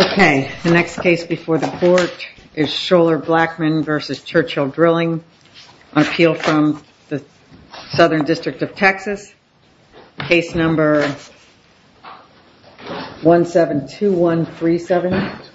Okay, the next case before the court is Schoeller-Bleckmann v. Churchill Drilling on appeal from the Southern District of Texas. Case number 172137.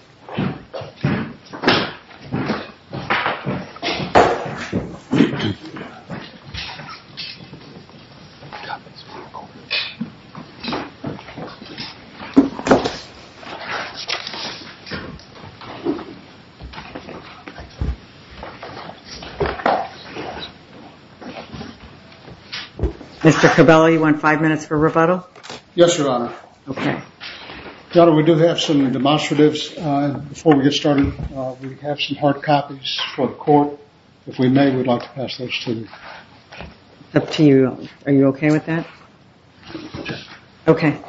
Mr. Cabello, you want five minutes for rebuttal? Yes, Your Honor. Okay. Your Honor, we do have some demonstratives. Before we get started, we have some hard copies for the court. If we may, we'd like to pass those to you. Up to you, Your Honor. Are you okay with that? Yes. Okay.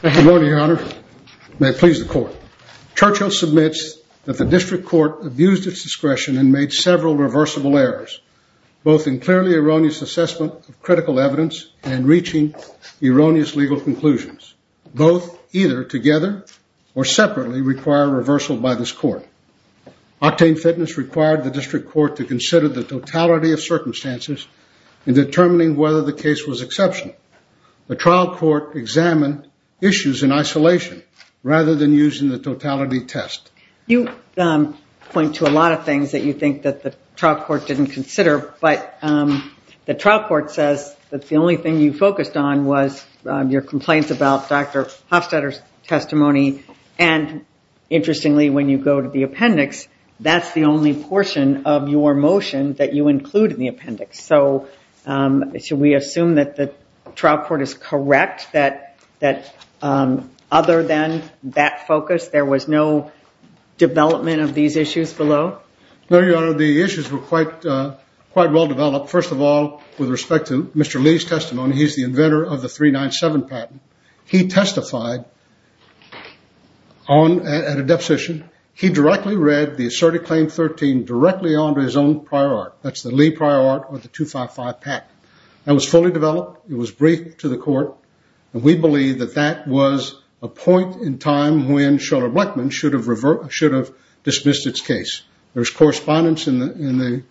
Good morning, Your Honor. May it please the court. Churchill submits that the district court abused its discretion and made several reversible errors, both in clearly erroneous assessment of critical evidence and in reaching erroneous legal conclusions. Both either together or separately require reversal by this court. Octane Fitness required the district court to consider the totality of circumstances in determining whether the case was exceptional. The trial court examined issues in isolation rather than using the totality test. You point to a lot of things that you think that the trial court didn't consider, but the trial court says that the only thing you focused on was your complaints about Dr. Hofstadter's testimony. And interestingly, when you go to the appendix, that's the only portion of your motion that you include in the appendix. So should we assume that the trial court is correct that other than that focus, there was no development of these issues below? No, Your Honor. The issues were quite well developed. First of all, with respect to Mr. Lee's testimony, he's the inventor of the 397 patent. He testified at a deposition. He directly read the Asserted Claim 13 directly onto his own prior art. That's the Lee prior art with the 255 patent. That was fully developed. It was briefed to the court. And we believe that that was a point in time when Sheldon Blackman should have dismissed its case. There's correspondence in the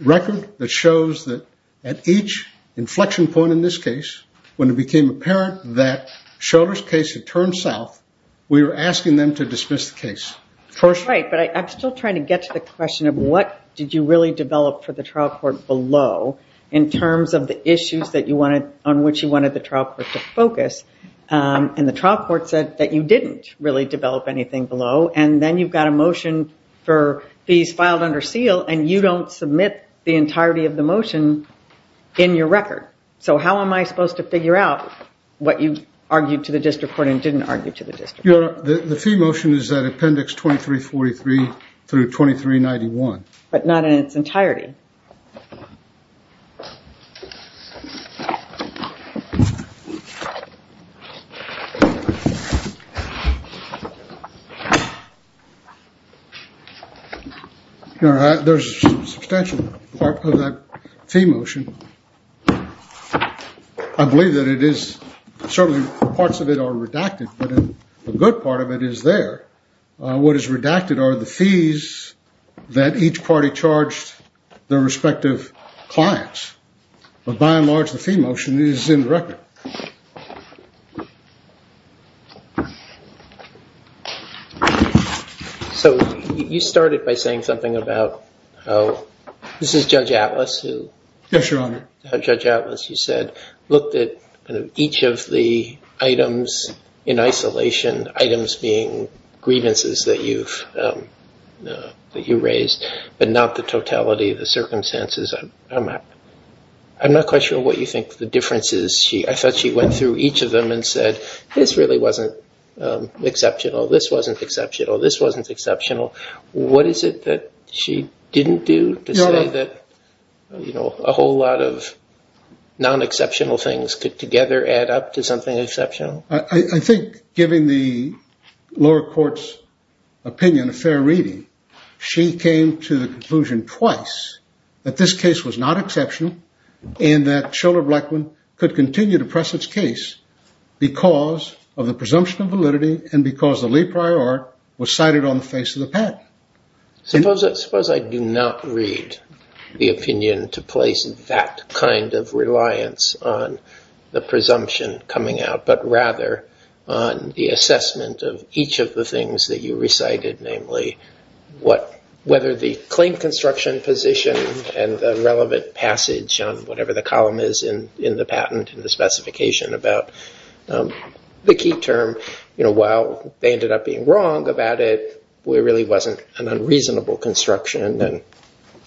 record that shows that at each inflection point in this case, when it became apparent that Sheldon's case had turned south, we were asking them to dismiss the case. Right, but I'm still trying to get to the question of what did you really develop for the trial court below in terms of the issues on which you wanted the trial court to focus. And the trial court said that you didn't really develop anything below. And then you've got a motion for these filed under seal, and you don't submit the entirety of the motion in your record. So how am I supposed to figure out what you argued to the district court and didn't argue to the district court? Your Honor, the fee motion is at Appendix 2343 through 2391. But not in its entirety. Your Honor, there's a substantial part of that fee motion. I believe that it is certainly parts of it are redacted, but a good part of it is there. What is redacted are the fees that each party charged their respective clients. But by and large, the fee motion is in the record. Your Honor, so you started by saying something about how this is Judge Atlas. Yes, Your Honor. Judge Atlas, you said, looked at each of the items in isolation, items being grievances that you raised, but not the totality of the circumstances. I'm not quite sure what you think the difference is. I thought she went through each of them and said, this really wasn't exceptional, this wasn't exceptional, this wasn't exceptional. What is it that she didn't do to say that a whole lot of non-exceptional things could together add up to something exceptional? I think, giving the lower court's opinion, a fair reading, she came to the conclusion twice that this case was not exceptional, and that Shiller Blackmun could continue to press its case because of the presumption of validity, and because the le prior art was cited on the face of the patent. Suppose I do not read the opinion to place that kind of reliance on the presumption coming out, but rather on the assessment of each of the things that you recited, namely whether the claim construction position and the relevant passage on whatever the column is in the patent and the specification about the key term, while they ended up being wrong about it, it really wasn't an unreasonable construction, and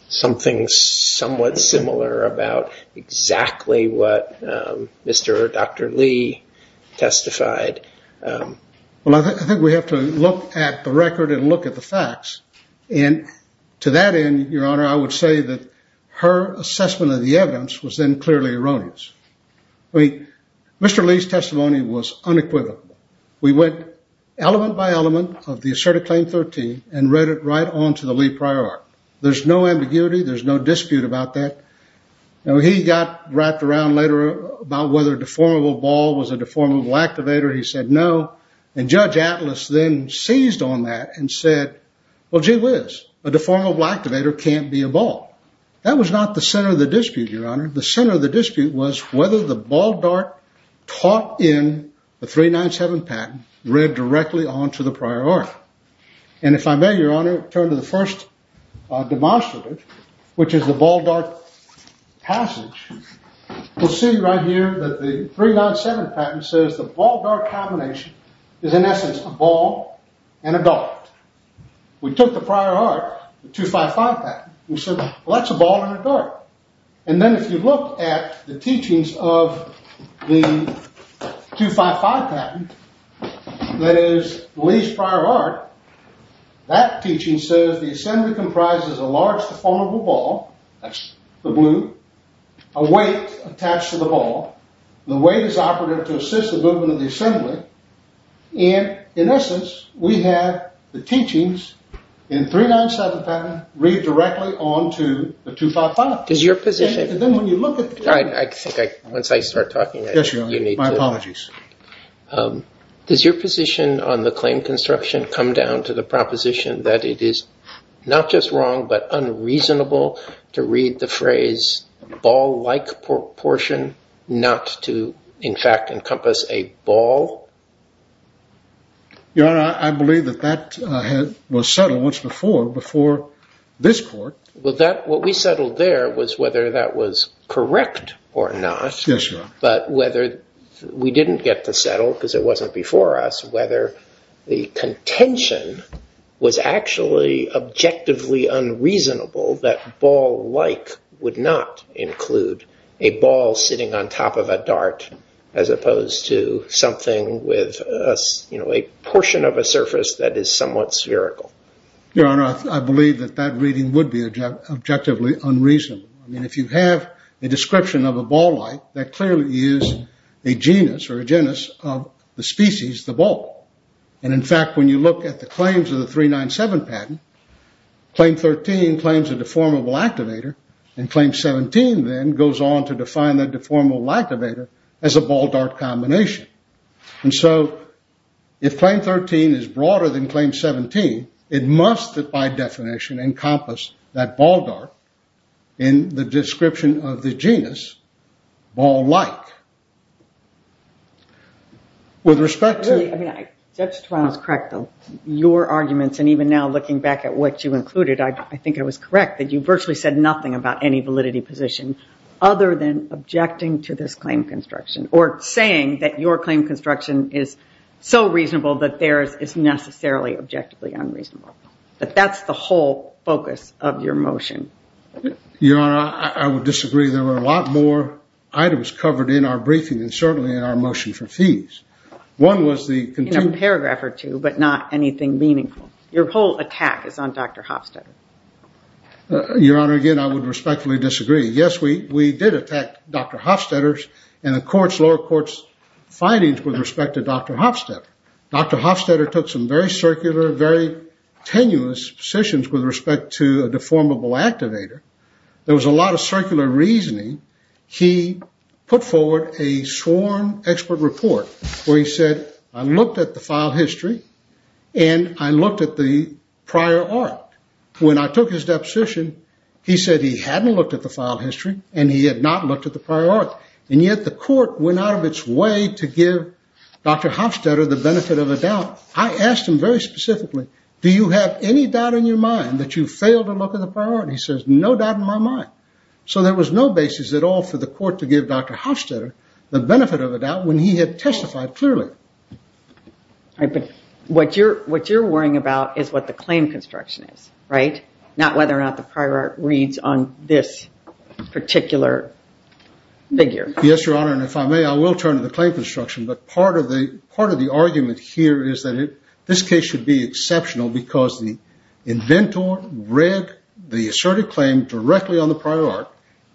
something somewhat similar about exactly what Mr. or Dr. Lee testified. Well, I think we have to look at the record and look at the facts, and to that end, Your Honor, I would say that her assessment of the evidence was then clearly erroneous. Mr. Lee's testimony was unequivocal. We went element by element of the asserted claim 13 and read it right on to the le prior art. There's no ambiguity. There's no dispute about that. He got wrapped around later about whether a deformable ball was a deformable activator. He said no, and Judge Atlas then seized on that and said, well, gee whiz, a deformable activator can't be a ball. That was not the center of the dispute, Your Honor. The center of the dispute was whether the ball dart taught in the 397 patent read directly on to the prior art, and if I may, Your Honor, turn to the first demonstrative, which is the ball dart passage. We'll see right here that the 397 patent says the ball dart combination is, in essence, a ball and a dart. We took the prior art, the 255 patent, and said, well, that's a ball and a dart, and then if you look at the teachings of the 255 patent, that is, Lee's prior art, that teaching says the assembly comprises a large deformable ball, that's the blue, a weight attached to the ball. The weight is operative to assist the movement of the assembly, and in essence, we have the teachings in the 397 patent read directly on to the 255. Does your position- And then when you look at the- I think once I start talking, you need to- Yes, Your Honor, my apologies. Does your position on the claim construction come down to the proposition that it is not just wrong, but unreasonable to read the phrase ball-like proportion not to, in fact, encompass a ball? Your Honor, I believe that that was settled once before, before this court. Well, what we settled there was whether that was correct or not. Yes, Your Honor. But whether we didn't get to settle, because it wasn't before us, whether the contention was actually objectively unreasonable that ball-like would not include a ball sitting on top of a dart, as opposed to something with a portion of a surface that is somewhat spherical. Your Honor, I believe that that reading would be objectively unreasonable. I mean, if you have a description of a ball-like, that clearly is a genus or a genus of the species, the ball. And in fact, when you look at the claims of the 397 patent, Claim 13 claims a deformable activator, and Claim 17 then goes on to define that deformable activator as a ball-dart combination. And so if Claim 13 is broader than Claim 17, it must, by definition, encompass that ball-dart in the description of the genus ball-like. With respect to- Judge Torano's correct, though. Your arguments, and even now looking back at what you included, I think it was correct that you virtually said nothing about any validity position other than objecting to this claim construction, or saying that your claim construction is so reasonable that theirs is necessarily objectively unreasonable. But that's the whole focus of your motion. Your Honor, I would disagree. There were a lot more items covered in our briefing and certainly in our motion for fees. One was the- In a paragraph or two, but not anything meaningful. Your whole attack is on Dr. Hofstadter. Your Honor, again, I would respectfully disagree. Yes, we did attack Dr. Hofstadter's and the lower court's findings with respect to Dr. Hofstadter. Dr. Hofstadter took some very circular, very tenuous positions with respect to a deformable activator. There was a lot of circular reasoning. He put forward a sworn expert report where he said, I looked at the file history and I looked at the prior art. When I took his deposition, he said he hadn't looked at the file history and he had not looked at the prior art. And yet the court went out of its way to give Dr. Hofstadter the benefit of a doubt. I asked him very specifically, do you have any doubt in your mind that you failed to look at the prior art? He says, no doubt in my mind. So there was no basis at all for the court to give Dr. Hofstadter the benefit of a doubt when he had testified clearly. But what you're worrying about is what the claim construction is, right? Not whether or not the prior art reads on this particular figure. Yes, Your Honor, and if I may, I will turn to the claim construction. But part of the argument here is that this case should be exceptional because the inventor read the asserted claim directly on the prior art.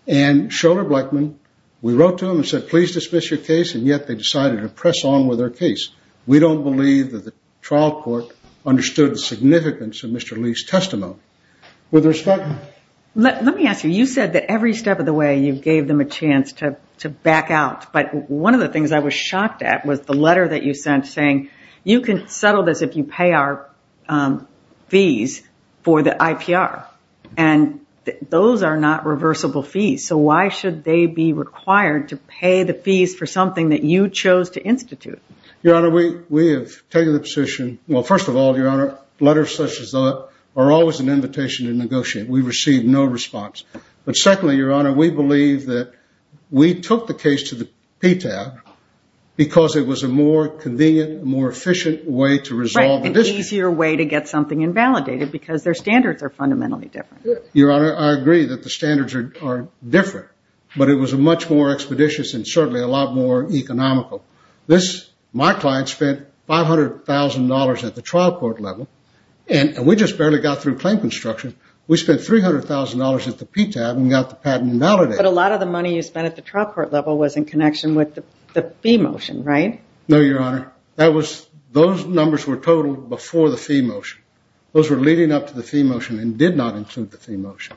And Schroeder Blackman, we wrote to him and said, please dismiss your case. And yet they decided to press on with their case. We don't believe that the trial court understood the significance of Mr. Lee's testimony. With respect... Let me ask you, you said that every step of the way you gave them a chance to back out. But one of the things I was shocked at was the letter that you sent saying, you can settle this if you pay our fees for the IPR. And those are not reversible fees. So why should they be required to pay the fees for something that you chose to institute? Your Honor, we have taken the position, well, first of all, Your Honor, letters such as that are always an invitation to negotiate. We received no response. But secondly, Your Honor, we believe that we took the case to the PTAB because it was a more convenient, more efficient way to resolve the dispute. It was an easier way to get something invalidated because their standards are fundamentally different. Your Honor, I agree that the standards are different. But it was a much more expeditious and certainly a lot more economical. This, my client spent $500,000 at the trial court level. And we just barely got through claim construction. We spent $300,000 at the PTAB and got the patent invalidated. But a lot of the money you spent at the trial court level was in connection with the fee motion, right? No, Your Honor. That was, those numbers were totaled before the fee motion. Those were leading up to the fee motion and did not include the fee motion.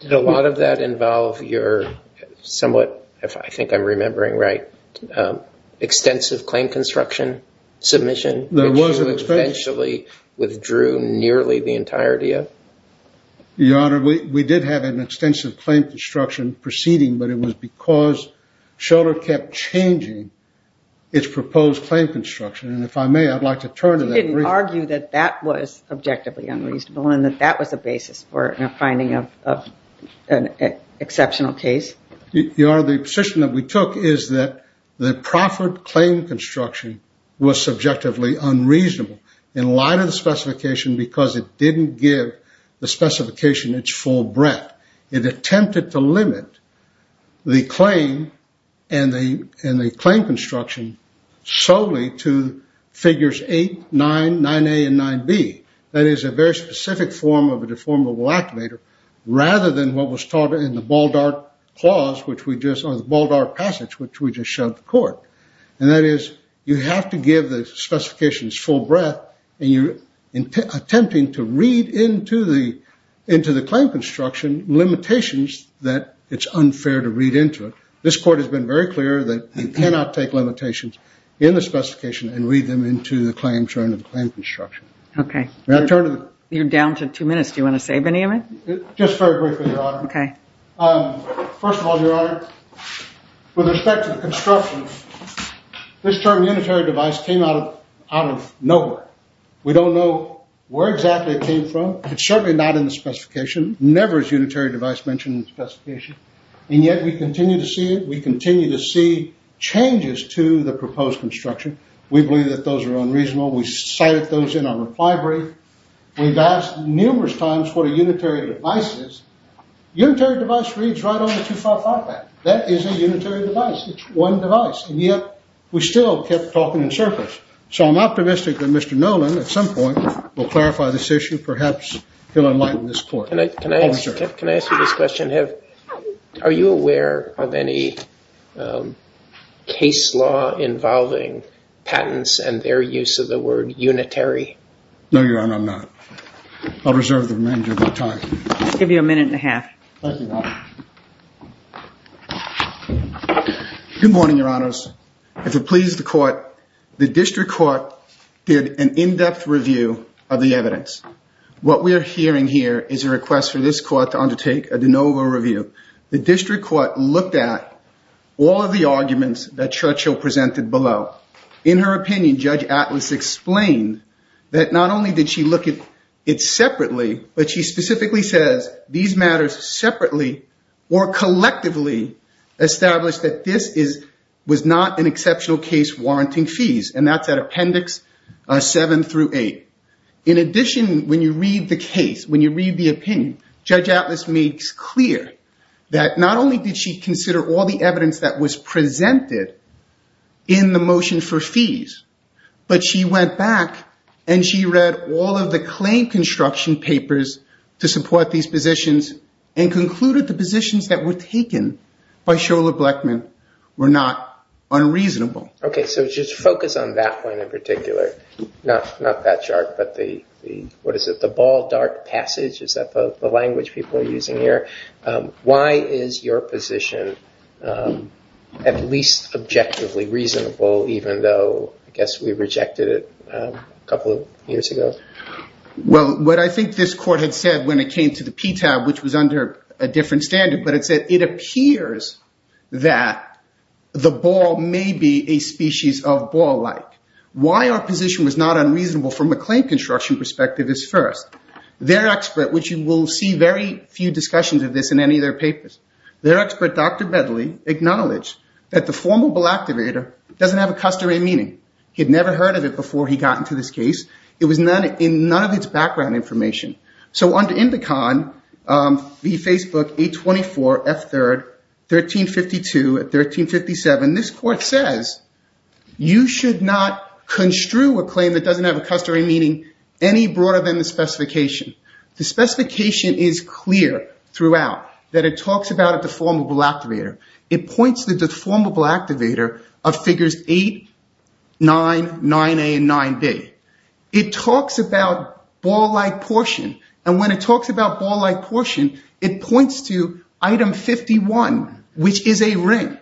Did a lot of that involve your somewhat, if I think I'm remembering right, extensive claim construction submission? There was extensive. Which you eventually withdrew nearly the entirety of? Your Honor, we did have an extensive claim construction proceeding. But it was because Schiller kept changing its proposed claim construction. And if I may, I'd like to turn to that brief. You didn't argue that that was objectively unreasonable and that that was a basis for finding an exceptional case? Your Honor, the position that we took is that the proffered claim construction was subjectively unreasonable. In light of the specification because it didn't give the specification its full breadth. It attempted to limit the claim and the claim construction solely to figures 8, 9, 9A, and 9B. That is a very specific form of a deformable activator rather than what was taught in the Baldart passage which we just showed the court. And that is you have to give the specifications full breadth and you're attempting to read into the claim construction limitations that it's unfair to read into it. This court has been very clear that you cannot take limitations in the specification and read them into the claim construction. Okay. You're down to two minutes. Do you want to save any of it? Just very briefly, Your Honor. Okay. First of all, Your Honor, with respect to the construction, this term unitary device came out of nowhere. We don't know where exactly it came from. It's certainly not in the specification. Never is unitary device mentioned in the specification. And yet we continue to see it. We continue to see changes to the proposed construction. We believe that those are unreasonable. We cited those in our reply brief. We've asked numerous times what a unitary device is. Unitary device reads right on the 255 Act. That is a unitary device. It's one device. And yet we still kept talking in circles. So I'm optimistic that Mr. Noland at some point will clarify this issue. Perhaps he'll enlighten this court. Can I ask you this question? Are you aware of any case law involving patents and their use of the word unitary? No, Your Honor, I'm not. I'll reserve the remainder of my time. I'll give you a minute and a half. Thank you, Your Honor. Good morning, Your Honors. If it pleases the court, the district court did an in-depth review of the evidence. What we are hearing here is a request for this court to undertake a de novo review. The district court looked at all of the arguments that Churchill presented below. In her opinion, Judge Atlas explained that not only did she look at it separately, but she specifically says these matters separately or collectively established that this was not an exceptional case warranting fees, and that's at Appendix 7 through 8. In addition, when you read the case, when you read the opinion, Judge Atlas makes clear that not only did she consider all the evidence that was presented in the motion for fees, but she went back and she read all of the claim construction papers to support these positions and concluded the positions that were taken by Shola Blechman were not unreasonable. Okay, so just focus on that one in particular, not that chart, but the, what is it, the ball dark passage? Is that the language people are using here? Why is your position at least objectively reasonable, even though I guess we rejected it a couple of years ago? Well, what I think this court had said when it came to the PTAB, which was under a different standard, but it said it appears that the ball may be a species of ball-like. Why our position was not unreasonable from a claim construction perspective is first. Their expert, which you will see very few discussions of this in any of their papers, their expert, Dr. Bedley, acknowledged that the formable activator doesn't have a customary meaning. He had never heard of it before he got into this case. It was in none of its background information. So under Indicon v. Facebook 824 F3rd 1352-1357, this court says, you should not construe a claim that doesn't have a customary meaning any broader than the specification. The specification is clear throughout that it talks about a deformable activator. It points to the deformable activator of figures 8, 9, 9A, and 9B. It talks about ball-like portion, and when it talks about ball-like portion, it points to item 51, which is a ring.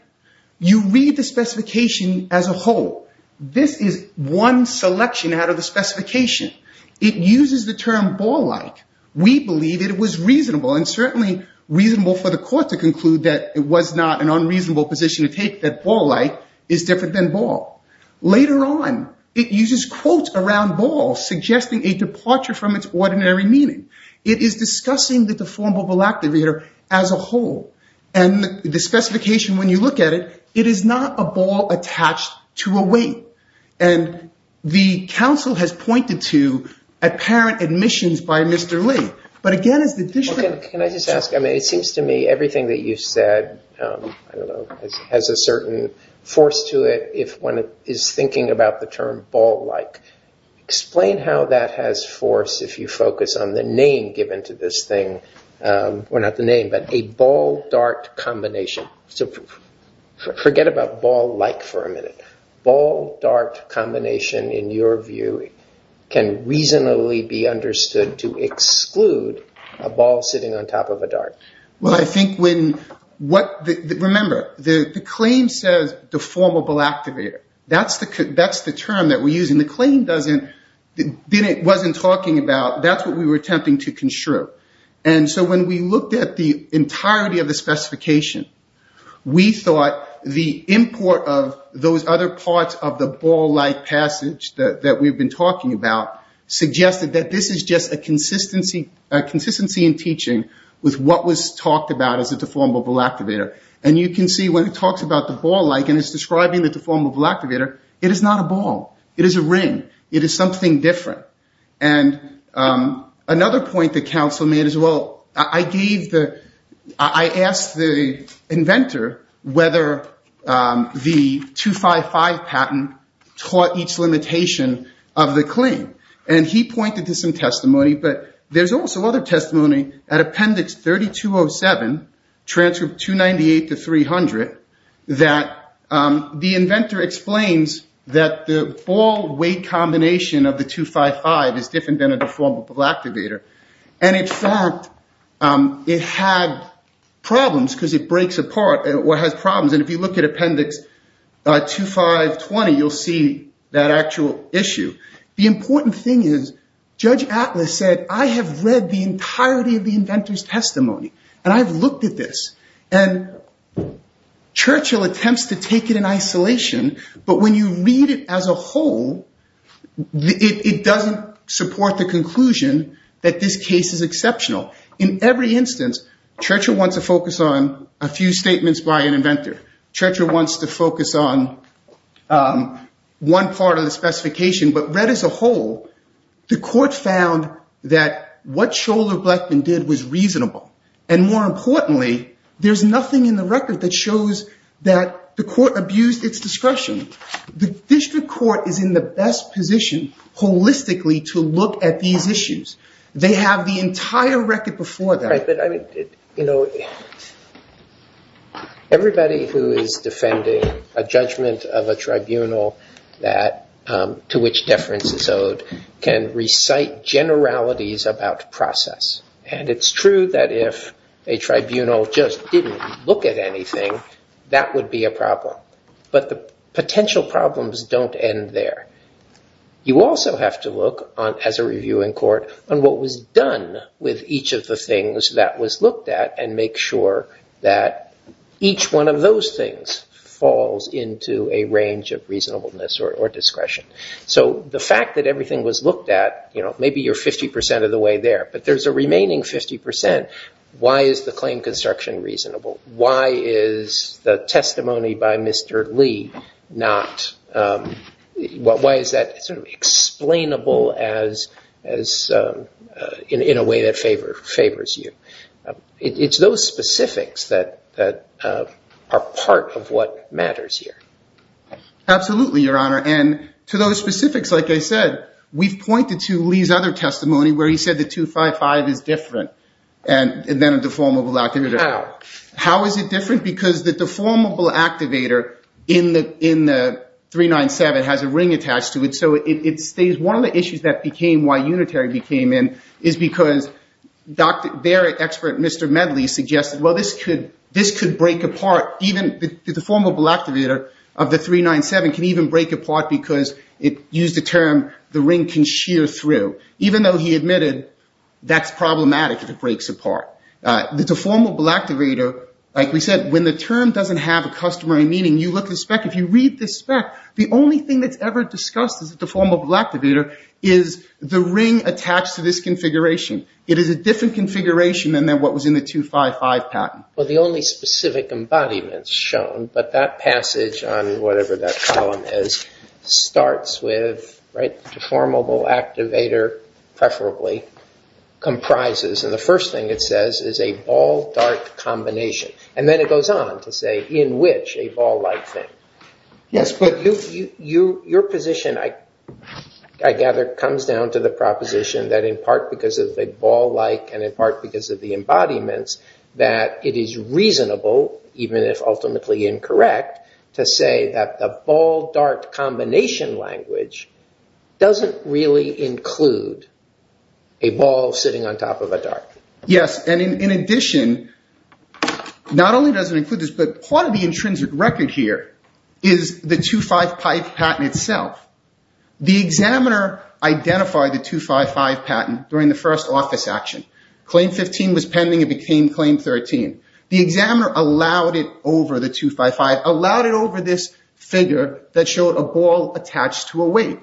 You read the specification as a whole. This is one selection out of the specification. It uses the term ball-like. We believe it was reasonable and certainly reasonable for the court to conclude that it was not an unreasonable position to take that ball-like is different than ball. Later on, it uses quotes around ball, suggesting a departure from its ordinary meaning. It is discussing the deformable activator as a whole. And the specification, when you look at it, it is not a ball attached to a weight. And the counsel has pointed to apparent admissions by Mr. Lee. But again, as the district... Can I just ask? I mean, it seems to me everything that you said has a certain force to it if one is thinking about the term ball-like. Explain how that has force if you focus on the name given to this thing. Well, not the name, but a ball-dart combination. Forget about ball-like for a minute. Ball-dart combination, in your view, can reasonably be understood to exclude a ball sitting on top of a dart. Well, I think when... Remember, the claim says deformable activator. That's the term that we're using. The claim wasn't talking about... That's what we were attempting to construe. And so when we looked at the entirety of the specification, we thought the import of those other parts of the ball-like passage that we've been talking about suggested that this is just a consistency in teaching with what was talked about as a deformable activator. And you can see when it talks about the ball-like and it's describing the deformable activator, it is not a ball. It is a ring. It is something different. And another point that counsel made is, well, I gave the... I asked the inventor whether the 255 patent taught each limitation of the claim. And he pointed to some testimony. But there's also other testimony at Appendix 3207, transcript 298 to 300, that the inventor explains that the ball-weight combination of the 255 is different than a deformable activator. And, in fact, it had problems because it breaks apart or has problems. And if you look at Appendix 2520, you'll see that actual issue. The important thing is Judge Atlas said, I have read the entirety of the inventor's testimony, and I've looked at this. And Churchill attempts to take it in isolation, but when you read it as a whole, it doesn't support the conclusion that this case is exceptional. In every instance, Churchill wants to focus on a few statements by an inventor. Churchill wants to focus on one part of the specification. But read as a whole, the court found that what Scholar-Blackman did was reasonable. And, more importantly, there's nothing in the record that shows that the court abused its discretion. The district court is in the best position holistically to look at these issues. They have the entire record before them. Everybody who is defending a judgment of a tribunal to which deference is owed can recite generalities about process. And it's true that if a tribunal just didn't look at anything, that would be a problem. But the potential problems don't end there. You also have to look, as a reviewing court, on what was done with each of the things that was looked at, and make sure that each one of those things falls into a range of reasonableness or discretion. So the fact that everything was looked at, maybe you're 50% of the way there, but there's a remaining 50%. Why is the claim construction reasonable? Why is the testimony by Mr. Lee not – why is that sort of explainable in a way that favors you? It's those specifics that are part of what matters here. Absolutely, Your Honor. And to those specifics, like I said, we've pointed to Lee's other testimony where he said the 255 is different, and then a deformable activator. How? How is it different? Because the deformable activator in the 397 has a ring attached to it, so it stays. One of the issues that became – why Unitary became in is because their expert, Mr. Medley, suggested, well, this could break apart. Even the deformable activator of the 397 can even break apart because it used a term, the ring can shear through. Even though he admitted that's problematic if it breaks apart. The deformable activator, like we said, when the term doesn't have a customary meaning, you look at the spec. If you read the spec, the only thing that's ever discussed as a deformable activator is the ring attached to this configuration. It is a different configuration than what was in the 255 patent. Well, the only specific embodiment is shown, but that passage on whatever that column is starts with, right, deformable activator, preferably, comprises, and the first thing it says is a ball-dart combination. And then it goes on to say in which a ball-like thing. Yes, but your position, I gather, comes down to the proposition that in part because of the ball-like and in part because of the embodiments, that it is reasonable, even if ultimately incorrect, to say that the ball-dart combination language doesn't really include a ball sitting on top of a dart. Yes, and in addition, not only does it include this, but part of the intrinsic record here is the 255 patent itself. The examiner identified the 255 patent during the first office action. Claim 15 was pending and became Claim 13. The examiner allowed it over the 255, allowed it over this figure that showed a ball attached to a weight.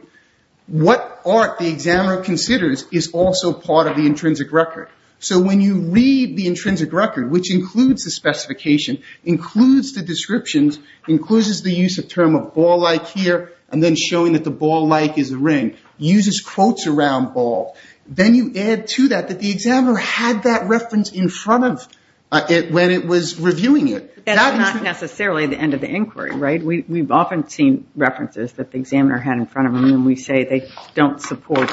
What art the examiner considers is also part of the intrinsic record. So when you read the intrinsic record, which includes the specification, includes the descriptions, includes the use of term of ball-like here, and then showing that the ball-like is a ring, uses quotes around ball. Then you add to that that the examiner had that reference in front of it when it was reviewing it. That's not necessarily the end of the inquiry, right? We've often seen references that the examiner had in front of them, and we say they don't support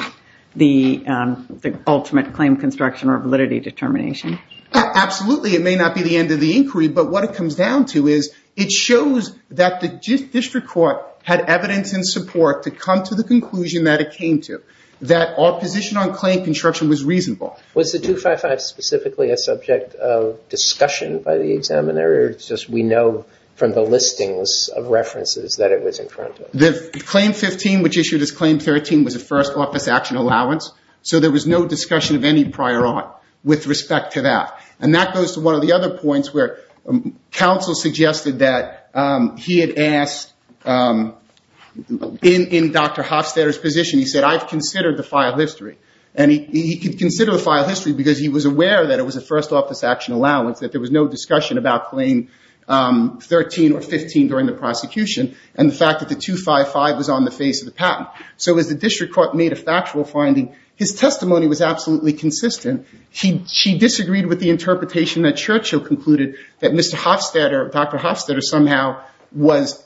the ultimate claim construction or validity determination. Absolutely. It may not be the end of the inquiry, but what it comes down to is it shows that the district court had evidence and support to come to the conclusion that it came to, that our position on claim construction was reasonable. Was the 255 specifically a subject of discussion by the examiner, or just we know from the listings of references that it was in front of? The Claim 15, which issued as Claim 13, was a first office action allowance, so there was no discussion of any prior art with respect to that. That goes to one of the other points where counsel suggested that he had asked, in Dr. Hofstadter's position, he said, I've considered the file history. He considered the file history because he was aware that it was a first office action allowance, that there was no discussion about Claim 13 or 15 during the prosecution, and the fact that the 255 was on the face of the patent. So as the district court made a factual finding, his testimony was absolutely consistent. She disagreed with the interpretation that Churchill concluded that Mr. Hofstadter, Dr. Hofstadter somehow was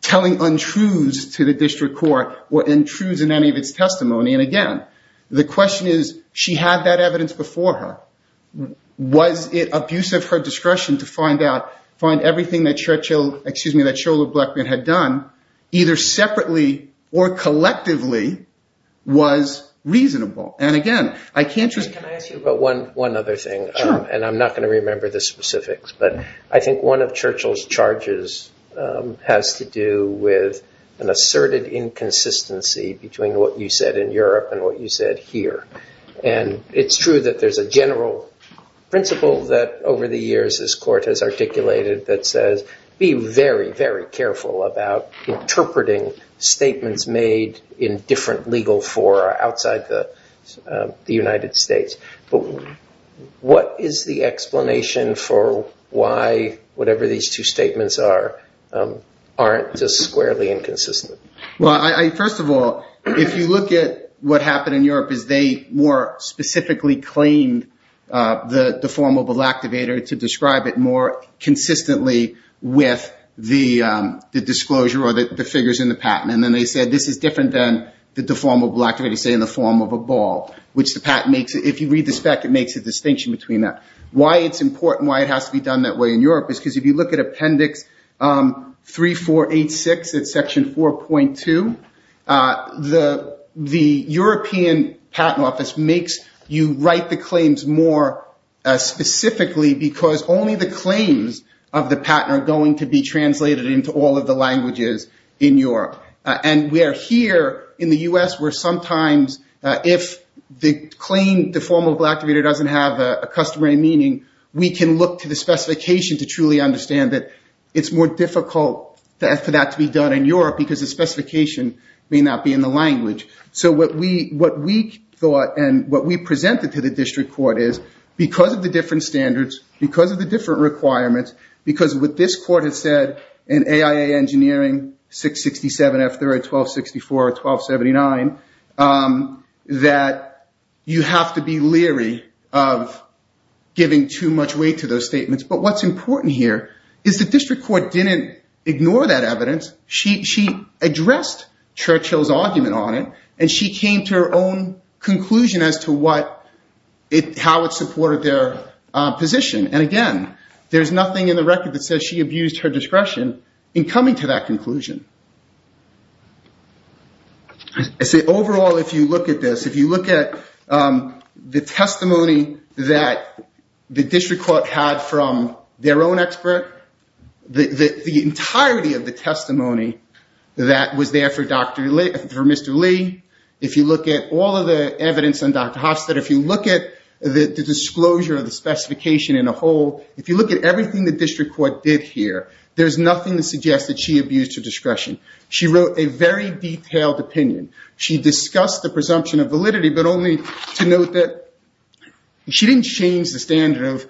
telling untruths to the district court or untruths in any of its testimony. And again, the question is, she had that evidence before her. Was it abuse of her discretion to find out, find everything that Churchill, Blackburn had done, either separately or collectively, was reasonable? And again, I can't just- Can I ask you about one other thing? Sure. And I'm not going to remember the specifics, but I think one of Churchill's charges has to do with an asserted inconsistency between what you said in Europe and what you said here. And it's true that there's a general principle that, over the years, this court has articulated that says be very, very careful about interpreting statements made in different legal fora outside the United States. But what is the explanation for why whatever these two statements are aren't just squarely inconsistent? Well, first of all, if you look at what happened in Europe, is they more specifically claimed the deformable activator to describe it more consistently with the disclosure or the figures in the patent. And then they said this is different than the deformable activator, say, in the form of a ball, which the patent makes. If you read the spec, it makes a distinction between that. Why it's important, why it has to be done that way in Europe, is because if you look at Appendix 3486, it's Section 4.2, the European Patent Office makes you write the claims more specifically because only the claims of the patent are going to be translated into all of the languages in Europe. And we are here in the U.S. where sometimes if the claim, deformable activator doesn't have a customary meaning, we can look to the specification to truly understand that it's more difficult for that to be done in Europe because the specification may not be in the language. So what we thought and what we presented to the district court is because of the different standards, because of the different requirements, because what this court has said in AIA Engineering 667F3R1264R1279, that you have to be leery of giving too much weight to those statements. But what's important here is the district court didn't ignore that evidence. She addressed Churchill's argument on it, and she came to her own conclusion as to how it supported their position. And again, there's nothing in the record that says she abused her discretion in coming to that conclusion. Overall, if you look at this, if you look at the testimony that the district court had from their own expert, the entirety of the testimony that was there for Mr. Lee, if you look at all of the evidence on Dr. Hofstad, if you look at the disclosure of the specification in a whole, if you look at everything the district court did here, there's nothing to suggest that she abused her discretion. She wrote a very detailed opinion. She discussed the presumption of validity, but only to note that she didn't change the standard of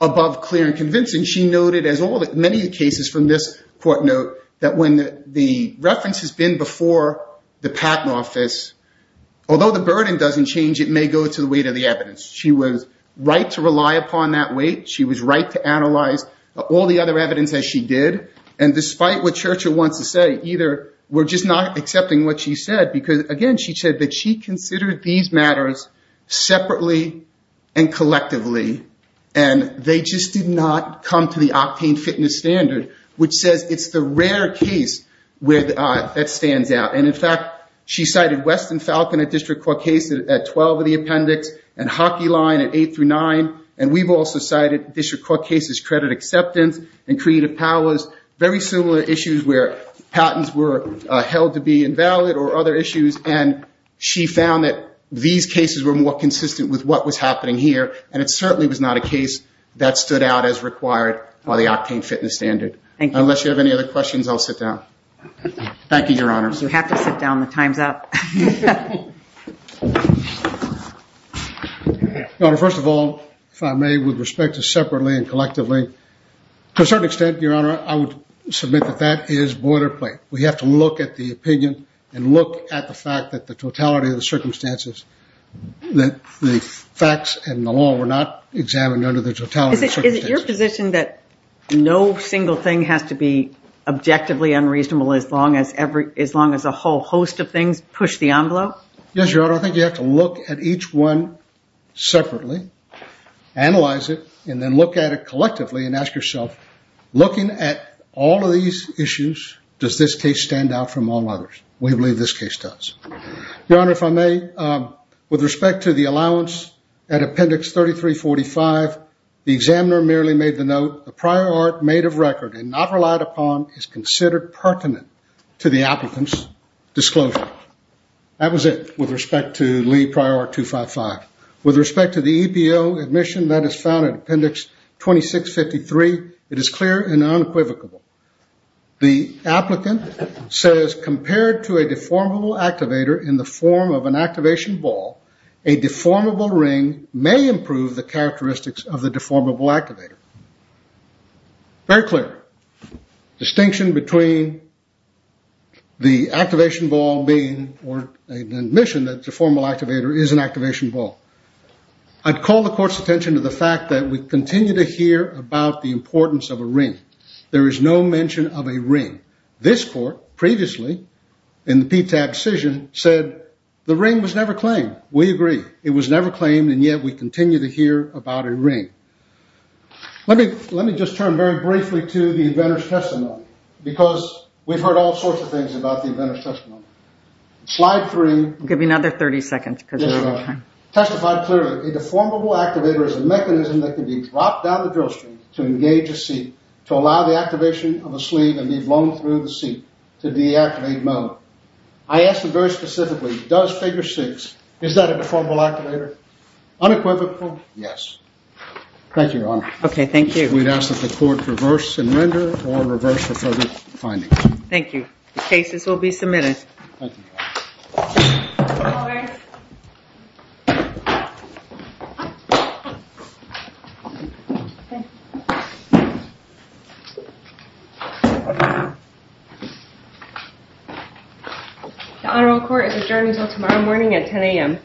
above clear and convincing. She noted, as many cases from this court note, that when the reference has been before the patent office, although the burden doesn't change, it may go to the weight of the evidence. She was right to rely upon that weight. She was right to analyze all the other evidence as she did. And despite what Churchill wants to say, either we're just not accepting what she said, because again, she said that she considered these matters separately and collectively, and they just did not come to the octane fitness standard, which says it's the rare case where that stands out. And in fact, she cited Weston Falcon at district court case at 12 of the appendix and Hockey Line at 8 through 9. And we've also cited district court cases credit acceptance and creative powers, very similar issues where patents were held to be invalid or other issues. And she found that these cases were more consistent with what was happening here, and it certainly was not a case that stood out as required by the octane fitness standard. Thank you. Unless you have any other questions, I'll sit down. Thank you, Your Honors. You have to sit down. The time's up. Your Honor, first of all, if I may, with respect to separately and collectively, to a certain extent, Your Honor, I would submit that that is boilerplate. We have to look at the opinion and look at the fact that the totality of the circumstances, that the facts and the law were not examined under the totality of circumstances. Is it your position that no single thing has to be objectively unreasonable as long as a whole host of things push the envelope? Yes, Your Honor, I think you have to look at each one separately, analyze it, and then look at it collectively and ask yourself, looking at all of these issues, does this case stand out from all others? We believe this case does. Your Honor, if I may, with respect to the allowance at appendix 3345, the examiner merely made the note, the prior art made of record and not relied upon is considered pertinent to the applicant's disclosure. That was it with respect to Lee Prior Art 255. With respect to the EPO admission that is found at appendix 2653, it is clear and unequivocal. The applicant says, compared to a deformable activator in the form of an activation ball, a deformable ring may improve the characteristics of the deformable activator. Very clear distinction between the activation ball being, or an admission that the deformable activator is an activation ball. I'd call the court's attention to the fact that we continue to hear about the importance of a ring. There is no mention of a ring. This court previously, in the PTAB decision, said the ring was never claimed. We agree. It was never claimed and yet we continue to hear about a ring. Let me just turn very briefly to the inventor's testimony because we've heard all sorts of things about the inventor's testimony. Slide three. I'll give you another 30 seconds because we don't have time. Testify clearly. A deformable activator is a mechanism that can be dropped down the drill string to engage a seat to allow the activation of a sleeve and be blown through the seat to deactivate mode. I ask you very specifically, does figure six, is that a deformable activator? Unequivocal, yes. Thank you, Your Honor. Okay, thank you. We'd ask that the court reverse and render or reverse the further findings. Thank you. The cases will be submitted. Thank you. All rise. The Honorable Court is adjourned until tomorrow morning at 10 a.m.